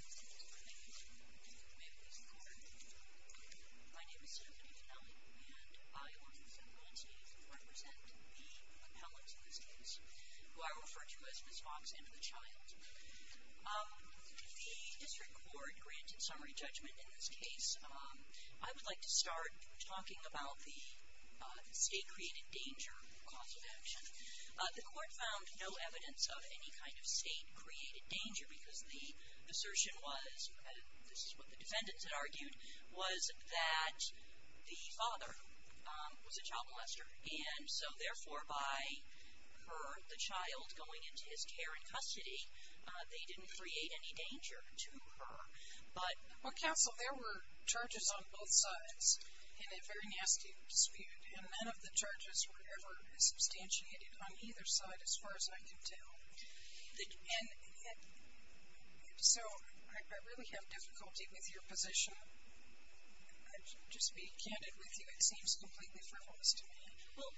May I please start? My name is Stephanie Fanelli, and I, along with everyone else here, represent the compellents of this case, who I refer to as Ms. Fox and the child. The District Court granted summary judgment in this case. I would like to start talking about the state-created danger cause of action. The court found no evidence of any kind of state-created danger because the assertion was, this is what the defendants had argued, was that the father was a child molester. And so therefore, by her, the child, going into his care and custody, they didn't create any danger to her. Well, Counsel, there were charges on both sides in a very nasty dispute, and none of the charges were ever substantiated on either side, as far as I can tell. So, I really have difficulty with your position. Just being candid with you, it seems completely frivolous to me. Well,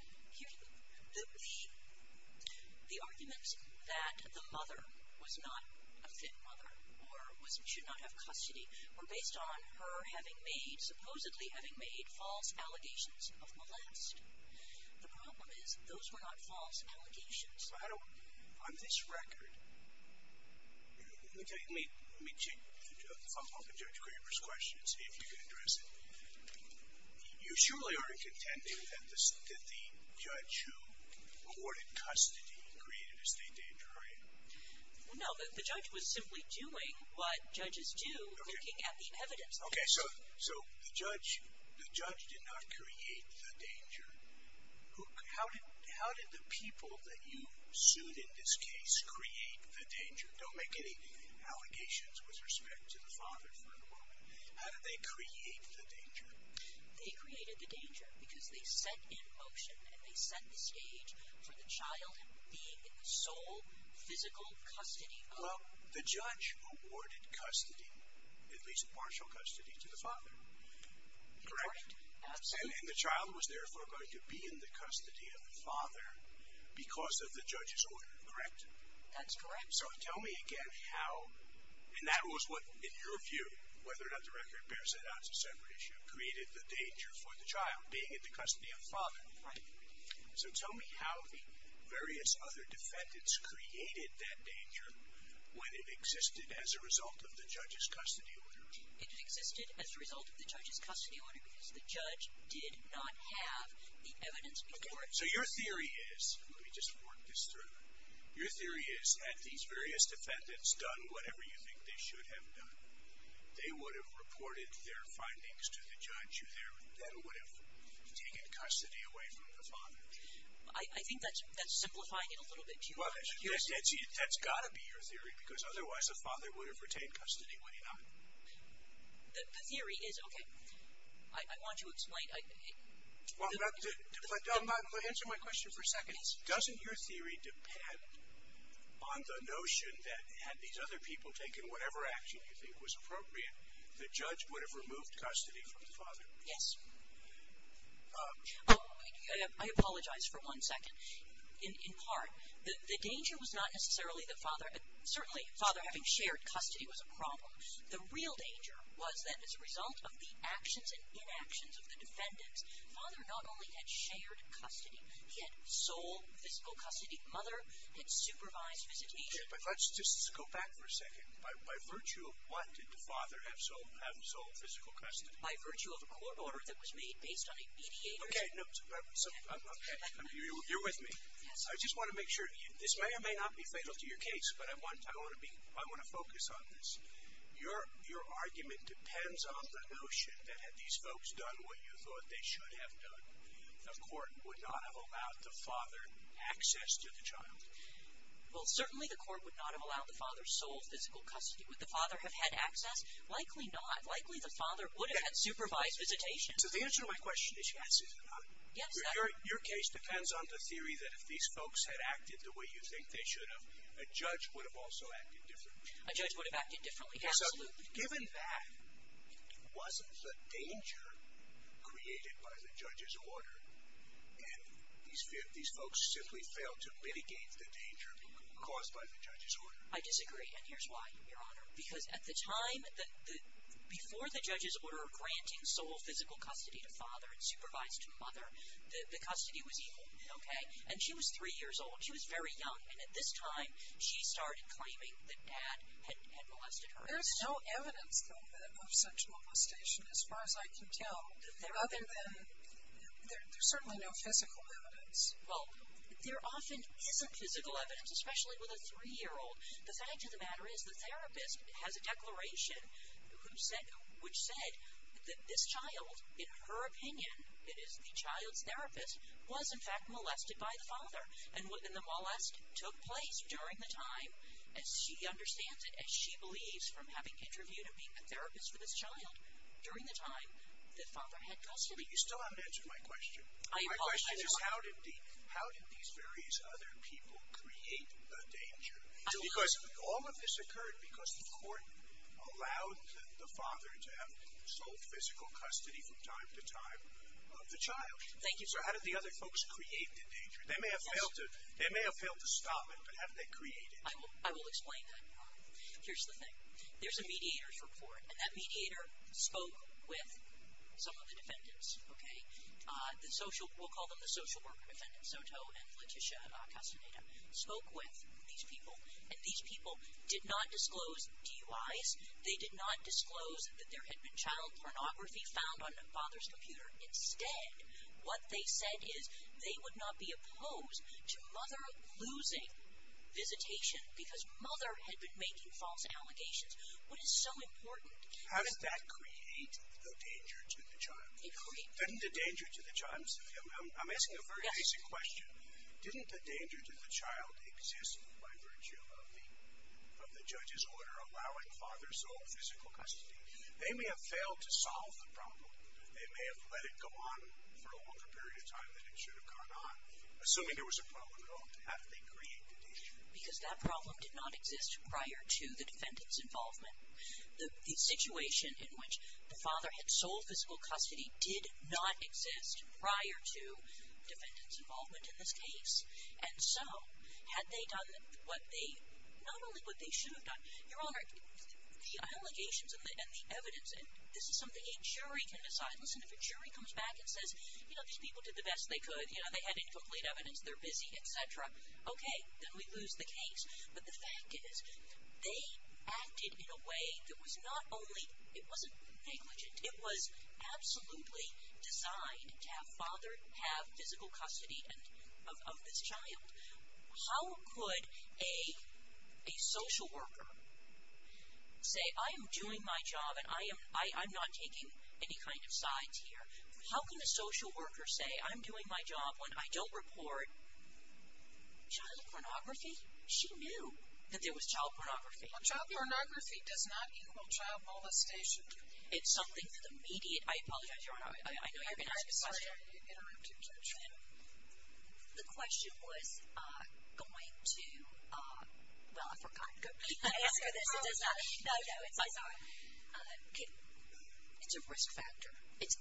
the arguments that the mother was not a fit mother or should not have custody were based on her having made, supposedly having made, false allegations of molest. The problem is, those were not false allegations. So, how do, on this record, let me check the phone book of Judge Graber's question and see if you can address it. You surely aren't contending that the judge who awarded custody created a state danger, are you? No, the judge was simply doing what judges do, looking at the evidence. Okay, so the judge did not create the danger. How did the people that you sued in this case create the danger? Don't make any allegations with respect to the father for the moment. How did they create the danger? They created the danger because they set in motion and they set the stage for the child being in the sole physical custody of her. Well, the judge awarded custody, at least partial custody, to the father, correct? Correct, absolutely. And the child was therefore going to be in the custody of the father because of the judge's order, correct? That's correct. So, tell me again how, and that was what, in your view, whether or not the record bears it out as a separate issue, created the danger for the child, being in the custody of the father. Right. So tell me how the various other defendants created that danger when it existed as a result of the judge's custody order. It existed as a result of the judge's custody order because the judge did not have the evidence before him. Okay, so your theory is, let me just work this through, your theory is that these various defendants done whatever you think they should have done. They would have reported their findings to the judge who then would have taken custody away from the father. I think that's simplifying it a little bit too much. Well, that's got to be your theory because otherwise the father would have retained custody, would he not? The theory is, okay, I want to explain. Well, let me answer my question for a second. Doesn't your theory depend on the notion that had these other people taken whatever action you think was appropriate, the judge would have removed custody from the father? Yes. I apologize for one second. In part, the danger was not necessarily that father, certainly father having shared custody was a problem. The real danger was that as a result of the actions and inactions of the defendants, father not only had shared custody, he had sole physical custody. Mother had supervised visitation. Okay, but let's just go back for a second. By virtue of what did the father have sole physical custody? By virtue of a court order that was made based on a mediator's... Okay, you're with me. Yes. I just want to make sure, this may or may not be fatal to your case, but I want to focus on this. Your argument depends on the notion that had these folks done what you thought they should have done, the court would not have allowed the father access to the child. Well, certainly the court would not have allowed the father sole physical custody. Would the father have had access? Likely not. Likely the father would have had supervised visitation. So the answer to my question is yes, is it not? Yes. Your case depends on the theory that if these folks had acted the way you think they should have, a judge would have also acted differently. A judge would have acted differently. Absolutely. Given that, it wasn't the danger created by the judge's order, and these folks simply failed to mitigate the danger caused by the judge's order. I disagree. And here's why, Your Honor. Because at the time before the judge's order granting sole physical custody to father and supervised to mother, the custody was equal. Okay? And she was three years old. She was very young. And at this time, she started claiming that dad had molested her. There's no evidence, though, of such molestation as far as I can tell, other than there's certainly no physical evidence. Well, there often isn't physical evidence, especially with a three-year-old. The fact of the matter is the therapist has a declaration which said that this child, in her opinion, it is the child's therapist, was, in fact, molested by the father. And the molest took place during the time, as she understands it, as she believes, from having interviewed and being a therapist for this child during the time that father had custody. But you still haven't answered my question. I apologize, Your Honor. Which is how did these various other people create the danger? Because all of this occurred because the court allowed the father to have sole physical custody from time to time of the child. Thank you, sir. So how did the other folks create the danger? They may have failed to stop it, but how did they create it? I will explain that, Your Honor. Here's the thing. There's a mediator's report, and that mediator spoke with some of the defendants, okay? We'll call them the social worker defendants, Soto and Letitia Castaneda, spoke with these people. And these people did not disclose DUIs. They did not disclose that there had been child pornography found on the father's computer. Instead, what they said is they would not be opposed to mother losing visitation because mother had been making false allegations. What is so important? How did that create the danger to the child? I'm asking a very basic question. Didn't the danger to the child exist by virtue of the judge's order allowing father sole physical custody? They may have failed to solve the problem. They may have let it go on for a longer period of time than it should have gone on, assuming there was a problem at all. How did they create the danger? Because that problem did not exist prior to the defendant's involvement. The situation in which the father had sole physical custody did not exist prior to defendant's involvement in this case. And so, had they done what they, not only what they should have done. Your Honor, the allegations and the evidence, this is something a jury can decide. Listen, if a jury comes back and says, you know, these people did the best they could, you know, they had incomplete evidence, they're busy, et cetera. Okay, then we lose the case. But the fact is, they acted in a way that was not only, it wasn't negligent. It was absolutely designed to have father have physical custody of this child. How could a social worker say, I'm doing my job and I'm not taking any kind of sides here. How can a social worker say, I'm doing my job when I don't report child pornography? She knew that there was child pornography. Child pornography does not equal child molestation. It's something that the media, I apologize, Your Honor, I know you're going to ask a question. I'm sorry, I need to interrupt you, Judge. The question was going to, well, I forgot. Can I ask her this? No, no, it's fine. It's a risk factor. It's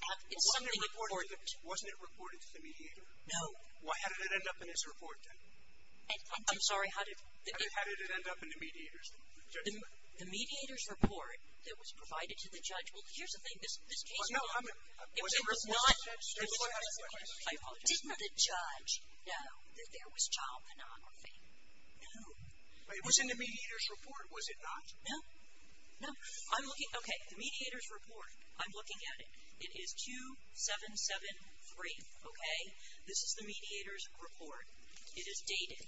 something important. Wasn't it reported to the mediator? No. Why did it end up in his report, then? I'm sorry, how did it end up in the mediator's report? The mediator's report that was provided to the judge, well, here's the thing, this case was not. I apologize. Didn't the judge know that there was child pornography? No. It was in the mediator's report, was it not? No. Okay, the mediator's report, I'm looking at it. It is 2773, okay? This is the mediator's report. It is dated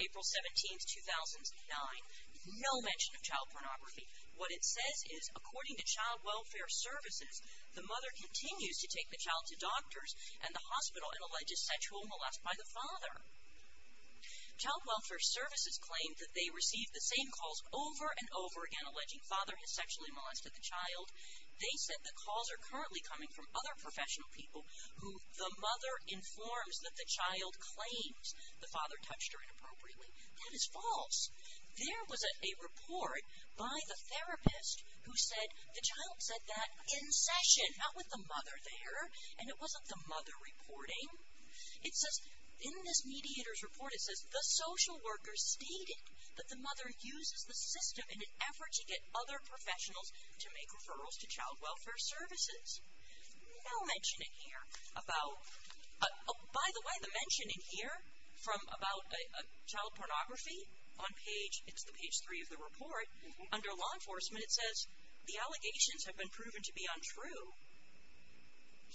April 17, 2009. No mention of child pornography. What it says is, according to Child Welfare Services, the mother continues to take the child to doctors and the hospital and alleges sexual molest by the father. Child Welfare Services claimed that they received the same calls over and over again alleging father has sexually molested the child. They said the calls are currently coming from other professional people who the mother informs that the child claims the father touched her inappropriately. That is false. There was a report by the therapist who said the child said that in session, not with the mother there. And it wasn't the mother reporting. It says in this mediator's report, it says the social worker stated that the mother uses the system in an effort to get other professionals to make referrals to Child Welfare Services. No mentioning here about, by the way, the mentioning here from about child pornography on page, it's the page three of the report, under law enforcement, it says the allegations have been proven to be untrue.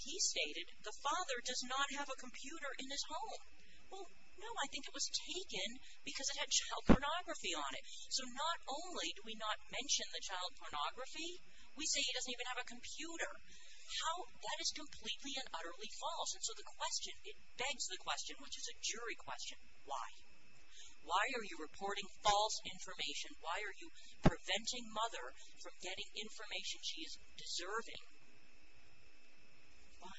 He stated the father does not have a computer in his home. Well, no, I think it was taken because it had child pornography on it. So not only do we not mention the child pornography, we say he doesn't even have a computer. How, that is completely and utterly false. And so the question, it begs the question, which is a jury question, why? Why are you reporting false information? Why are you preventing mother from getting information she is deserving? Why?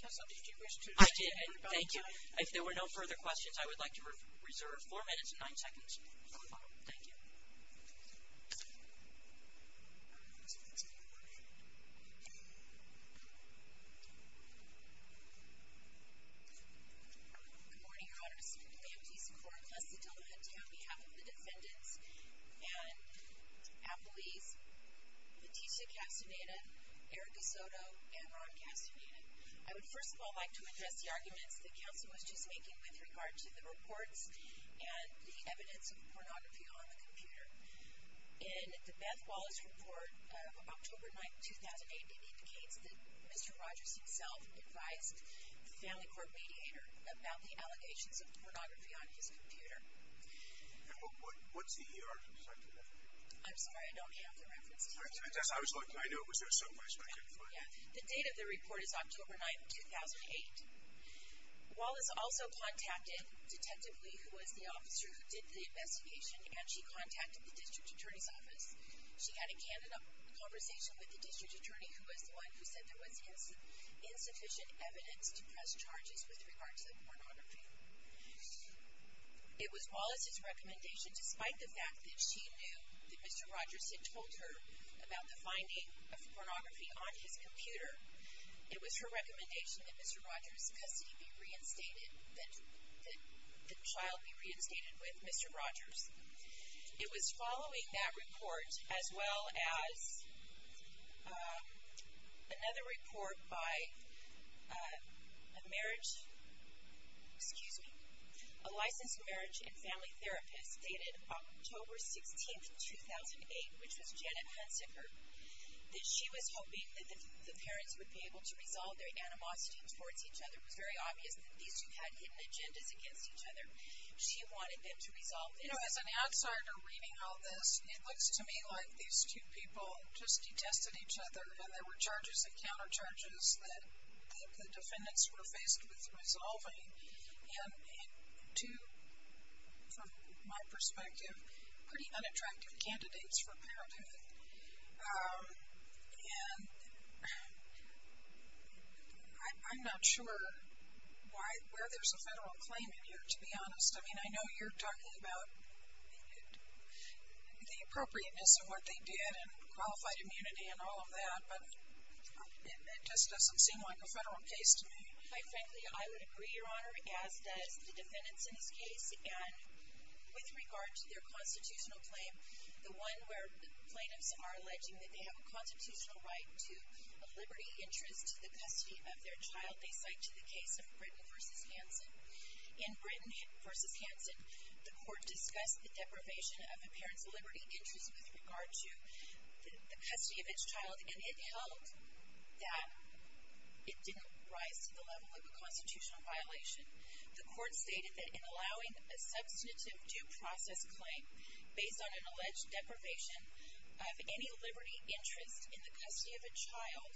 Counsel, did you wish to? I did. Thank you. If there were no further questions, I would like to reserve four minutes and nine seconds for the follow-up. Thank you. Good morning, Your Honors. My name is Lisa Korn, class of 2010, on behalf of the defendants and appellees, Leticia Castaneda, Erica Soto, and Ron Castaneda. I would first of all like to address the arguments that counsel was just making with regard to the reports and the evidence of pornography on the computer. In the Beth Wallace report of October 9, 2008, it indicates that Mr. Rogers himself advised the family court mediator about the allegations of pornography on his computer. And what's the ER perspective on that? I'm sorry, I don't have the references. I was looking. I know it was there someplace, but I couldn't find it. The date of the report is October 9, 2008. Wallace also contacted Detective Lee, who was the officer who did the investigation, and she contacted the district attorney's office. She had a candid conversation with the district attorney, who was the one who said there was insufficient evidence to press charges with regard to the pornography. It was Wallace's recommendation, despite the fact that she knew that Mr. Rogers had told her about the finding of pornography on his computer, it was her recommendation that Mr. Rogers' custody be reinstated, that the child be reinstated with Mr. Rogers. It was following that report, as well as another report by a marriage, excuse me, a licensed marriage and family therapist dated October 16, 2008, which was Janet Hunsicker, that she was hoping that the parents would be able to resolve their animosities towards each other. It was very obvious that these two had hidden agendas against each other. She wanted them to resolve it. You know, as an outsider reading all this, it looks to me like these two people just detested each other, and there were charges and countercharges that the defendants were faced with resolving, and two, from my perspective, pretty unattractive candidates for parenthood. And I'm not sure where there's a federal claim in here, to be honest. I mean, I know you're talking about the appropriateness of what they did and qualified immunity and all of that, but it just doesn't seem like a federal case to me. Quite frankly, I would agree, Your Honor, as does the defendants in this case, and with regard to their constitutional claim, the one where plaintiffs are alleging that they have a constitutional right to a liberty interest to the custody of their child, they cite to the case of Britton v. Hansen. In Britton v. Hansen, the court discussed the deprivation of a parent's liberty interest with regard to the custody of its child, and it held that it didn't rise to the level of a constitutional violation. The court stated that in allowing a substantive due process claim based on an alleged deprivation of any liberty interest in the custody of a child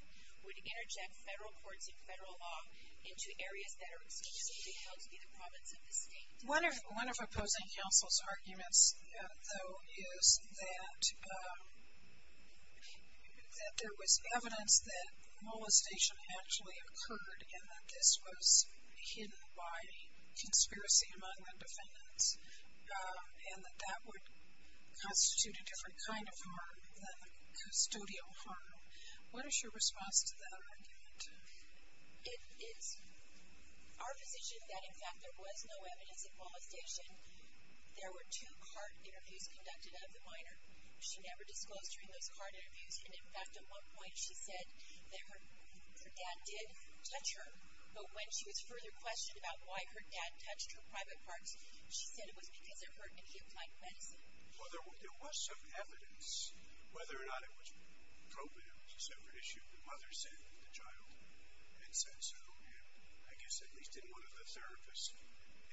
would interject federal courts and federal law into areas that are exclusively held to be the province of the state. One of opposing counsel's arguments, though, is that there was evidence that molestation actually occurred and that this was hidden by conspiracy among the defendants and that that would constitute a different kind of harm than custodial harm. What is your response to that argument? It is our position that, in fact, there was no evidence of molestation. There were two CART interviews conducted of the minor. She never disclosed during those CART interviews, and, in fact, at one point, she said that her dad did touch her, but when she was further questioned about why her dad touched her private parts, she said it was because of her inhib-like medicine. Well, there was some evidence whether or not it was probative. It's a separate issue. The mother said that the child had said so. And I guess at least in one of the therapist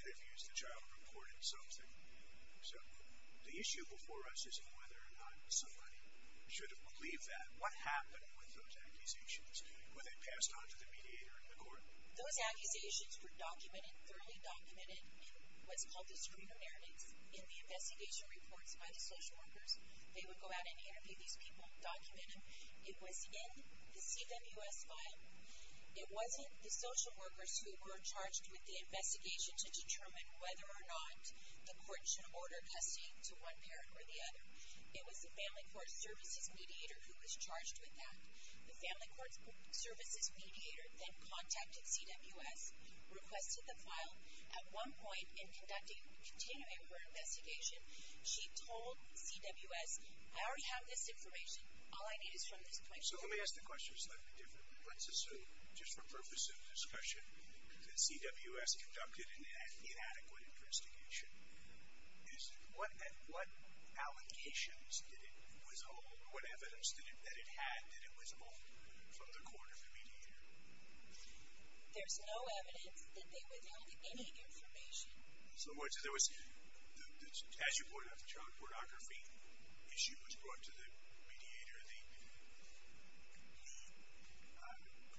interviews, the child reported something. So the issue before us isn't whether or not somebody should have believed that. What happened with those accusations? Were they passed on to the mediator in the court? Those accusations were documented, thoroughly documented in what's called the screener narratives, in the investigation reports by the social workers. They would go out and interview these people, document them. It was in the CFMUS file. It wasn't the social workers who were charged with the investigation to determine whether or not the court should order custody to one parent or the other. It was the family court services mediator who was charged with that. The family court services mediator then contacted CWS, requested the file. At one point, in continuing her investigation, she told CWS, I already have this information. All I need is from this point forward. So let me ask the question a slightly different way. Let's assume, just for purpose of discussion, that CWS conducted an inadequate investigation. What allegations did it withhold? What evidence that it had did it withhold from the court or the mediator? There's no evidence that they withheld any information. So as you pointed out, the child pornography issue was brought to the mediator. The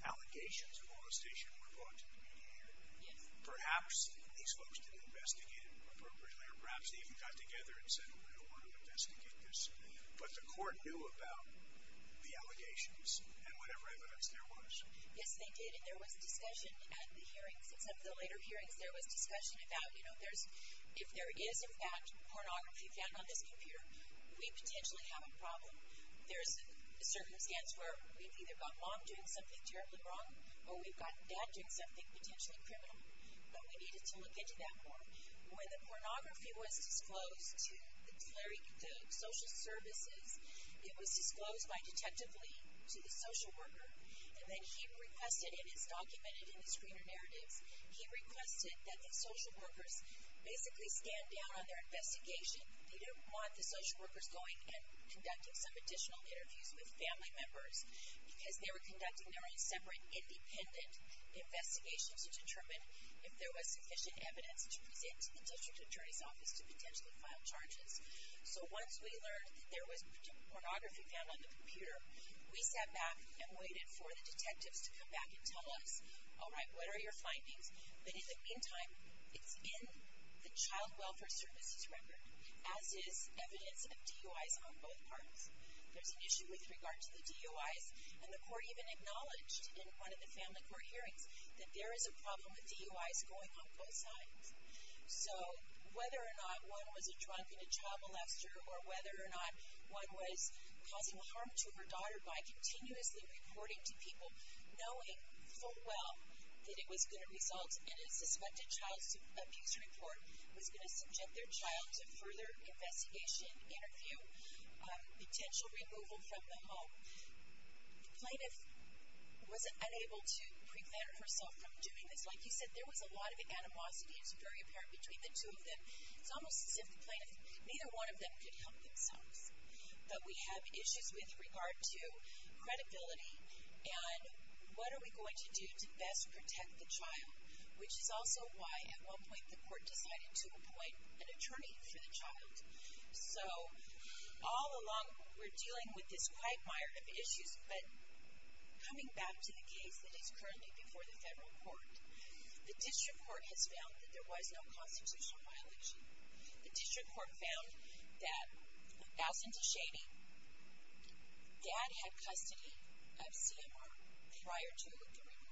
allegations of molestation were brought to the mediator. Yes. Perhaps these folks didn't investigate it appropriately or perhaps they even got together and said, oh, we don't want to investigate this. But the court knew about the allegations and whatever evidence there was. Yes, they did, and there was discussion at the hearings. Except the later hearings, there was discussion about, you know, if there is, in fact, pornography found on this computer, we potentially have a problem. There's a circumstance where we've either got mom doing something terribly wrong or we've got dad doing something potentially criminal. But we needed to look into that more. When the pornography was disclosed to the social services, it was disclosed by detective Lee to the social worker. And then he requested, and it's documented in the screener narratives, he requested that the social workers basically stand down on their investigation. They didn't want the social workers going and conducting some additional interviews with family members because they were conducting their own separate independent investigations to determine if there was sufficient evidence to present to the district attorney's office to potentially file charges. So once we learned that there was pornography found on the computer, we sat back and waited for the detectives to come back and tell us, all right, what are your findings? But in the meantime, it's in the Child Welfare Services record, as is evidence of DUIs on both parts. There's an issue with regard to the DUIs, and the court even acknowledged in one of the family court hearings that there is a problem with DUIs going on both sides. So whether or not one was a drunk and a child molester, or whether or not one was causing harm to her daughter by continuously reporting to people, knowing full well that it was going to result in a suspected child abuse report, was going to subject their child to further investigation, interview, potential removal from the home. The plaintiff was unable to prevent herself from doing this. Like you said, there was a lot of animosity, it's very apparent, between the two of them. It's almost as if the plaintiff, neither one of them could help themselves. But we have issues with regard to credibility and what are we going to do to best protect the child, which is also why at one point the court decided to appoint an attorney for the child. So, all along we're dealing with this quagmire of issues, but coming back to the case that is currently before the federal court, the district court has found that there was no constitutional violation. The district court found that Allison Teshady's dad had custody of CMR prior to the removal.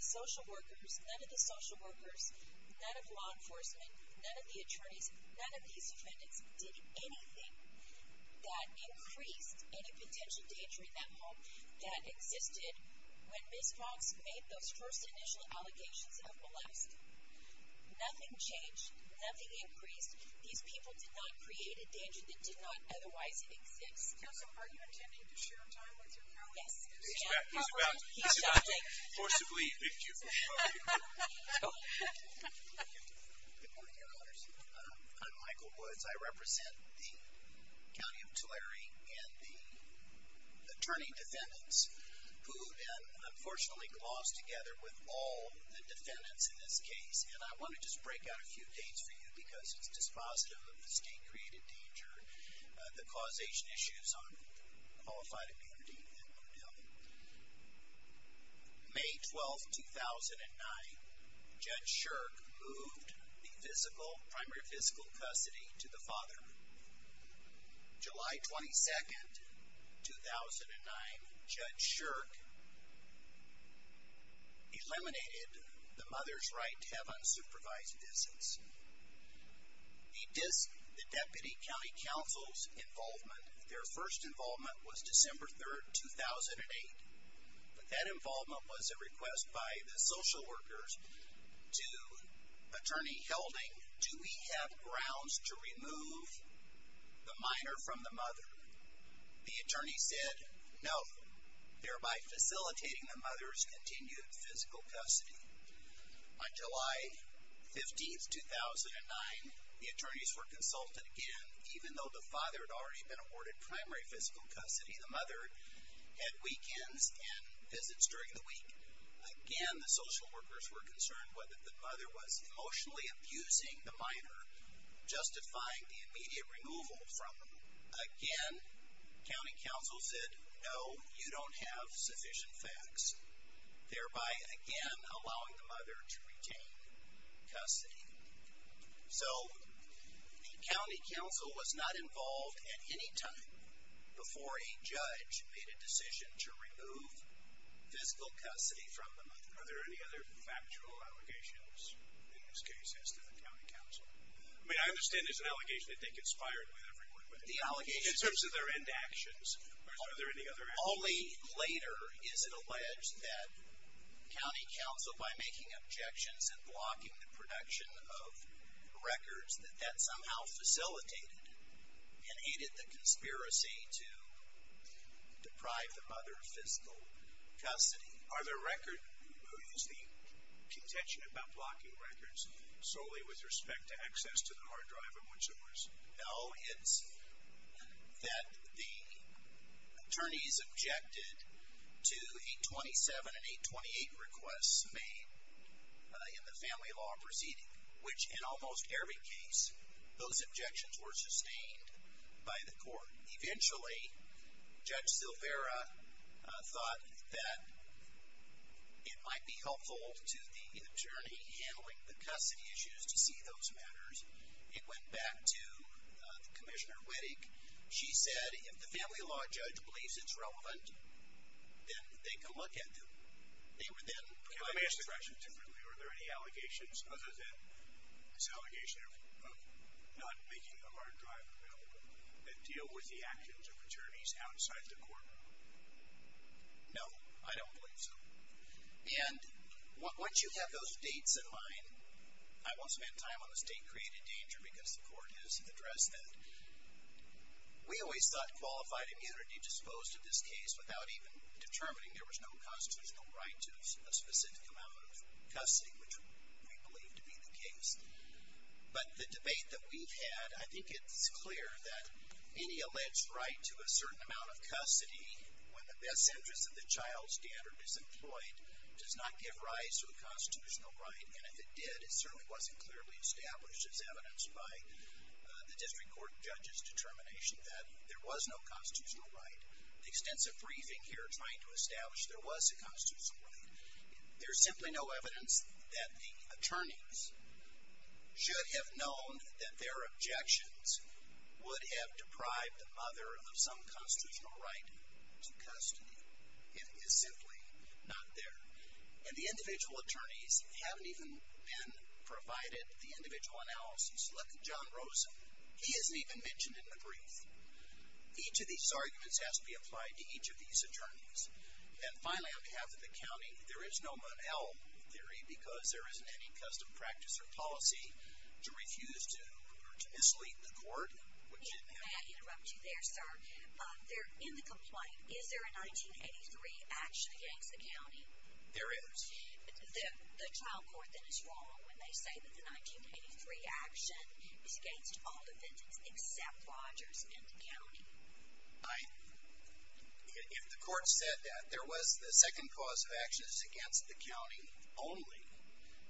The social workers, none of the social workers, none of law enforcement, none of the attorneys, none of these defendants, did anything that increased any potential danger in that home that existed when Ms. Cox made those first initial allegations of molest. Nothing changed, nothing increased, these people did not create a danger that did not otherwise exist. Counsel, are you intending to share time with your family? Yes. He's about to forcibly evict you. Good morning, Your Honors. I'm Michael Woods. I represent the County of Tulare and the attorney defendants who then, unfortunately, glossed together with all the defendants in this case. And I want to just break out a few dates for you because it's dispositive of the state-created danger, the causation issues on qualified immunity, and what have you. May 12, 2009, Judge Shirk moved the primary fiscal custody to the father. July 22, 2009, Judge Shirk eliminated the mother's right to have unsupervised visits. He dissed the Deputy County Counsel's involvement. Their first involvement was December 3, 2008. But that involvement was a request by the social workers to Attorney Helding, do we have grounds to remove the minor from the mother? The attorney said, no, thereby facilitating the mother's continued physical custody. On July 15, 2009, the attorneys were consulted again. Even though the father had already been awarded primary fiscal custody, the mother had weekends and visits during the week. Again, the social workers were concerned whether the mother was emotionally abusing the minor, justifying the immediate removal from them. Again, County Counsel said, no, you don't have sufficient facts. Thereby, again, allowing the mother to retain custody. So, the County Counsel was not involved at any time before a judge made a decision to remove fiscal custody from the mother. Are there any other factual allegations in this case as to the County Counsel? I mean, I understand there's an allegation that they conspired with everyone, but in terms of their end actions, are there any other allegations? Only later is it alleged that County Counsel, by making objections and blocking the production of records, that that somehow facilitated and aided the conspiracy to deprive the mother of fiscal custody. Are there records that use the contention about blocking records solely with respect to access to the hard drive and whatsoever? No, it's that the attorneys objected to 827 and 828 requests made in the family law proceeding, which in almost every case, those objections were sustained by the court. Eventually, Judge Silvera thought that it might be helpful to the attorney handling the custody issues to see those matters. It went back to Commissioner Wettig. She said, if the family law judge believes it's relevant, then they can look at them. They were then provided with treasures. Can I ask the question differently? Are there any allegations other than this allegation of not making the hard drive available that deal with the actions of attorneys outside the court? No, I don't believe so. Once you have those dates in mind, I won't spend time on the state-created danger because the court has addressed that. We always thought qualified immunity disposed of this case without even determining there was no constitutional right to a specific amount of custody, which we believe to be the case. But the debate that we've had, I think it's clear that any alleged right to a certain amount of custody when the best interest of the child standard is employed does not give rise to a constitutional right, and if it did, it certainly wasn't clearly established as evidenced by the district court judge's determination that there was no constitutional right. The extensive briefing here trying to establish there was a constitutional right, there's simply no evidence that the attorneys should have known that their objections would have deprived the mother of some constitutional right to custody. It is simply not there. And the individual attorneys haven't even been provided the individual analysis. Look at John Rosen. He isn't even mentioned in the brief. Each of these arguments has to be applied to each of these attorneys. And finally, on behalf of the county, there is no Mon-El theory because there isn't any custom practice or policy to refuse to mislead the court. May I interrupt you there, sir? In the complaint, is there a 1983 action against the county? There is. The trial court then is wrong when they say that the 1983 action is against all defendants except Rogers and the county. If the court said that there was the second cause of action is against the county only,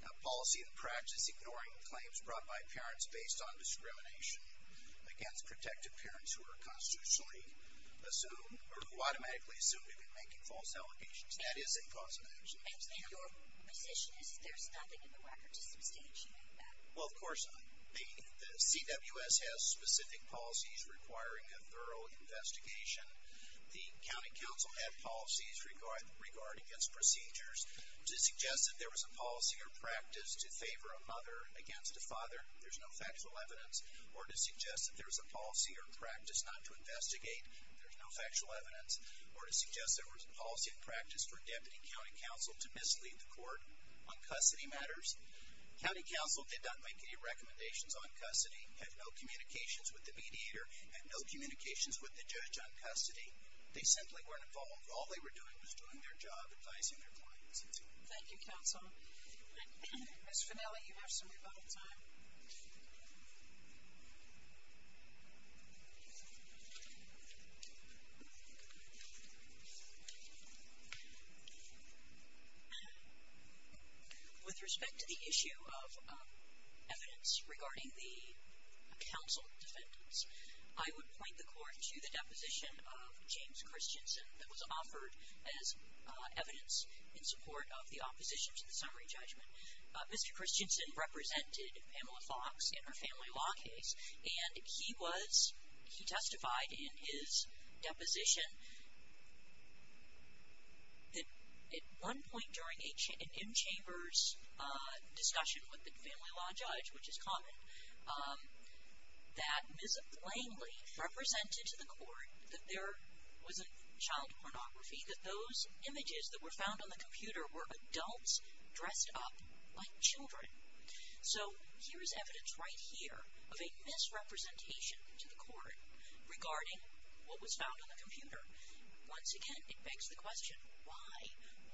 a policy and practice ignoring claims brought by parents based on discrimination against protective parents who are constitutionally assumed or who automatically assume they've been making false allegations, that is a cause of action. And your position is there's nothing in the record to substantiate that? Well, of course, the CWS has specific policies requiring a thorough investigation. The county council had policies regarding its procedures to suggest that there was a policy or practice to favor a mother against a father. There's no factual evidence. Or to suggest that there's a policy or practice not to investigate. There's no factual evidence. Or to suggest there was a policy and practice for a deputy county council to mislead the court on custody matters. County council did not make any recommendations on custody, had no communications with the mediator, had no communications with the judge on custody. They simply weren't involved. All they were doing was doing their job, advising their clients. Thank you, counsel. Ms. Fanelli, you have some rebuttal time. Thank you. With respect to the issue of evidence regarding the council defendants, I would point the court to the deposition of James Christensen that was offered as evidence in support of the opposition to the summary judgment. Mr. Christensen represented Pamela Fox in her family law case. And he testified in his deposition that at one point during an in-chambers discussion with the family law judge, which is common, that Ms. Langley represented to the court that there was a child pornography, that those images that were found on the computer were adults dressed up like children. So here is evidence right here of a misrepresentation to the court regarding what was found on the computer. Once again, it begs the question, why?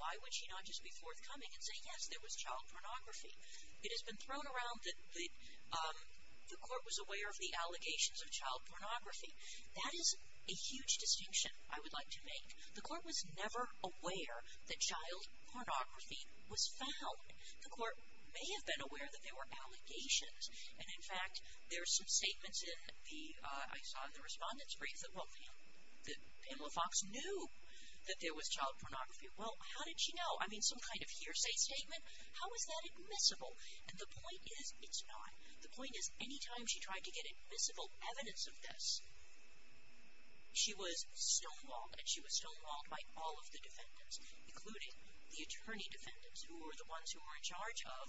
Why would she not just be forthcoming and say, yes, there was child pornography? It has been thrown around that the court was aware of the allegations of child pornography. That is a huge distinction I would like to make. The court was never aware that child pornography was found. The court may have been aware that there were allegations. And in fact, there are some statements in the, I saw in the respondent's brief, that Pamela Fox knew that there was child pornography. Well, how did she know? I mean, some kind of hearsay statement. How is that admissible? And the point is, it's not. The point is, any time she tried to get admissible evidence of this, she was stonewalled, and she was stonewalled by all of the defendants, including the attorney defendants, who were the ones who were in charge of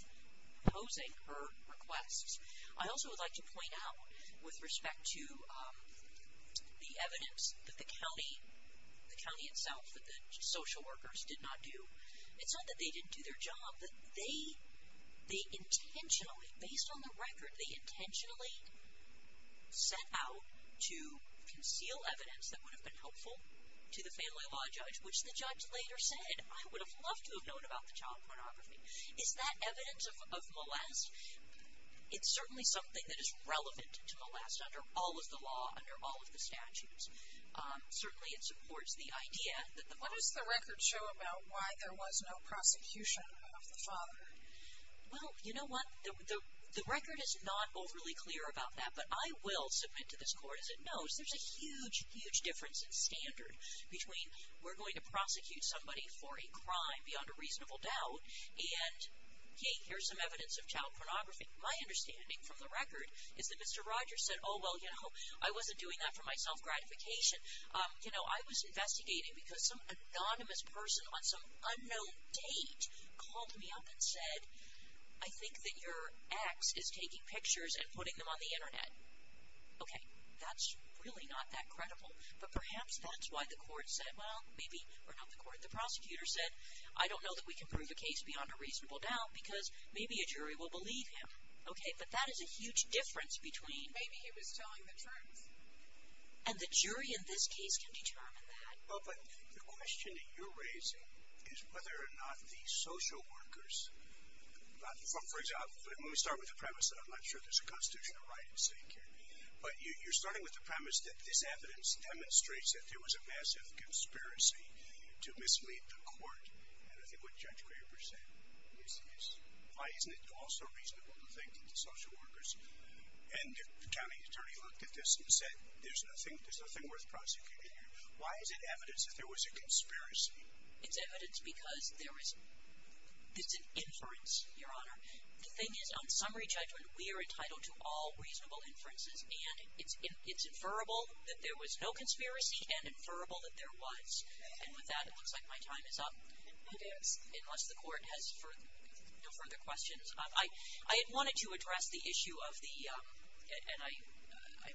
posing her requests. I also would like to point out, with respect to the evidence that the county, the county itself, that the social workers did not do, it's not that they didn't do their job, but they intentionally, based on the record, they intentionally set out to conceal evidence that would have been helpful to the family law judge, which the judge later said, I would have loved to have known about the child pornography. Is that evidence of molest? It's certainly something that is relevant to molest under all of the law, under all of the statutes. Certainly it supports the idea that the father. What does the record show about why there was no prosecution of the father? Well, you know what? The record is not overly clear about that, but I will submit to this court, as it knows, there's a huge, huge difference in standard between, we're going to prosecute somebody for a crime beyond a reasonable doubt, and, hey, here's some evidence of child pornography. My understanding from the record is that Mr. Rogers said, oh, well, you know, I wasn't doing that for my self-gratification. You know, I was investigating because some anonymous person on some unknown date called me up and said, I think that your ex is taking pictures and putting them on the Internet. Okay, that's really not that credible. But perhaps that's why the court said, well, maybe, or not the court, the prosecutor said, I don't know that we can prove a case beyond a reasonable doubt because maybe a jury will believe him. Okay, but that is a huge difference between. Maybe he was telling the truth. And the jury in this case can determine that. Well, but the question that you're raising is whether or not the social workers, for example, let me start with the premise that I'm not sure there's a constitutional right at stake here. But you're starting with the premise that this evidence demonstrates that there was a massive conspiracy to mislead the court. And I think what Judge Graber said is, why isn't it also reasonable to think that the social workers and the county attorney looked at this and said, there's nothing worth prosecuting here. Why is it evidence that there was a conspiracy? It's evidence because there is, it's an inference, Your Honor. The thing is, on summary judgment, we are entitled to all reasonable inferences. And it's inferrable that there was no conspiracy and inferrable that there was. And with that, it looks like my time is up. It is. Unless the court has no further questions. I had wanted to address the issue of the, and I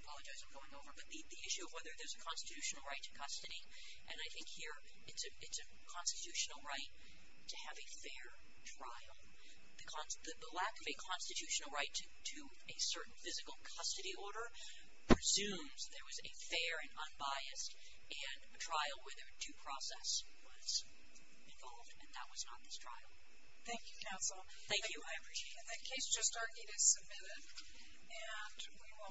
apologize for going over, but the issue of whether there's a constitutional right to custody. And I think here it's a constitutional right to have a fair trial. The lack of a constitutional right to a certain physical custody order presumes there was a fair and unbiased trial where there were due process was involved, and that was not this trial. Thank you, counsel. Thank you. I appreciate it. The case just started. It is submitted. And we will.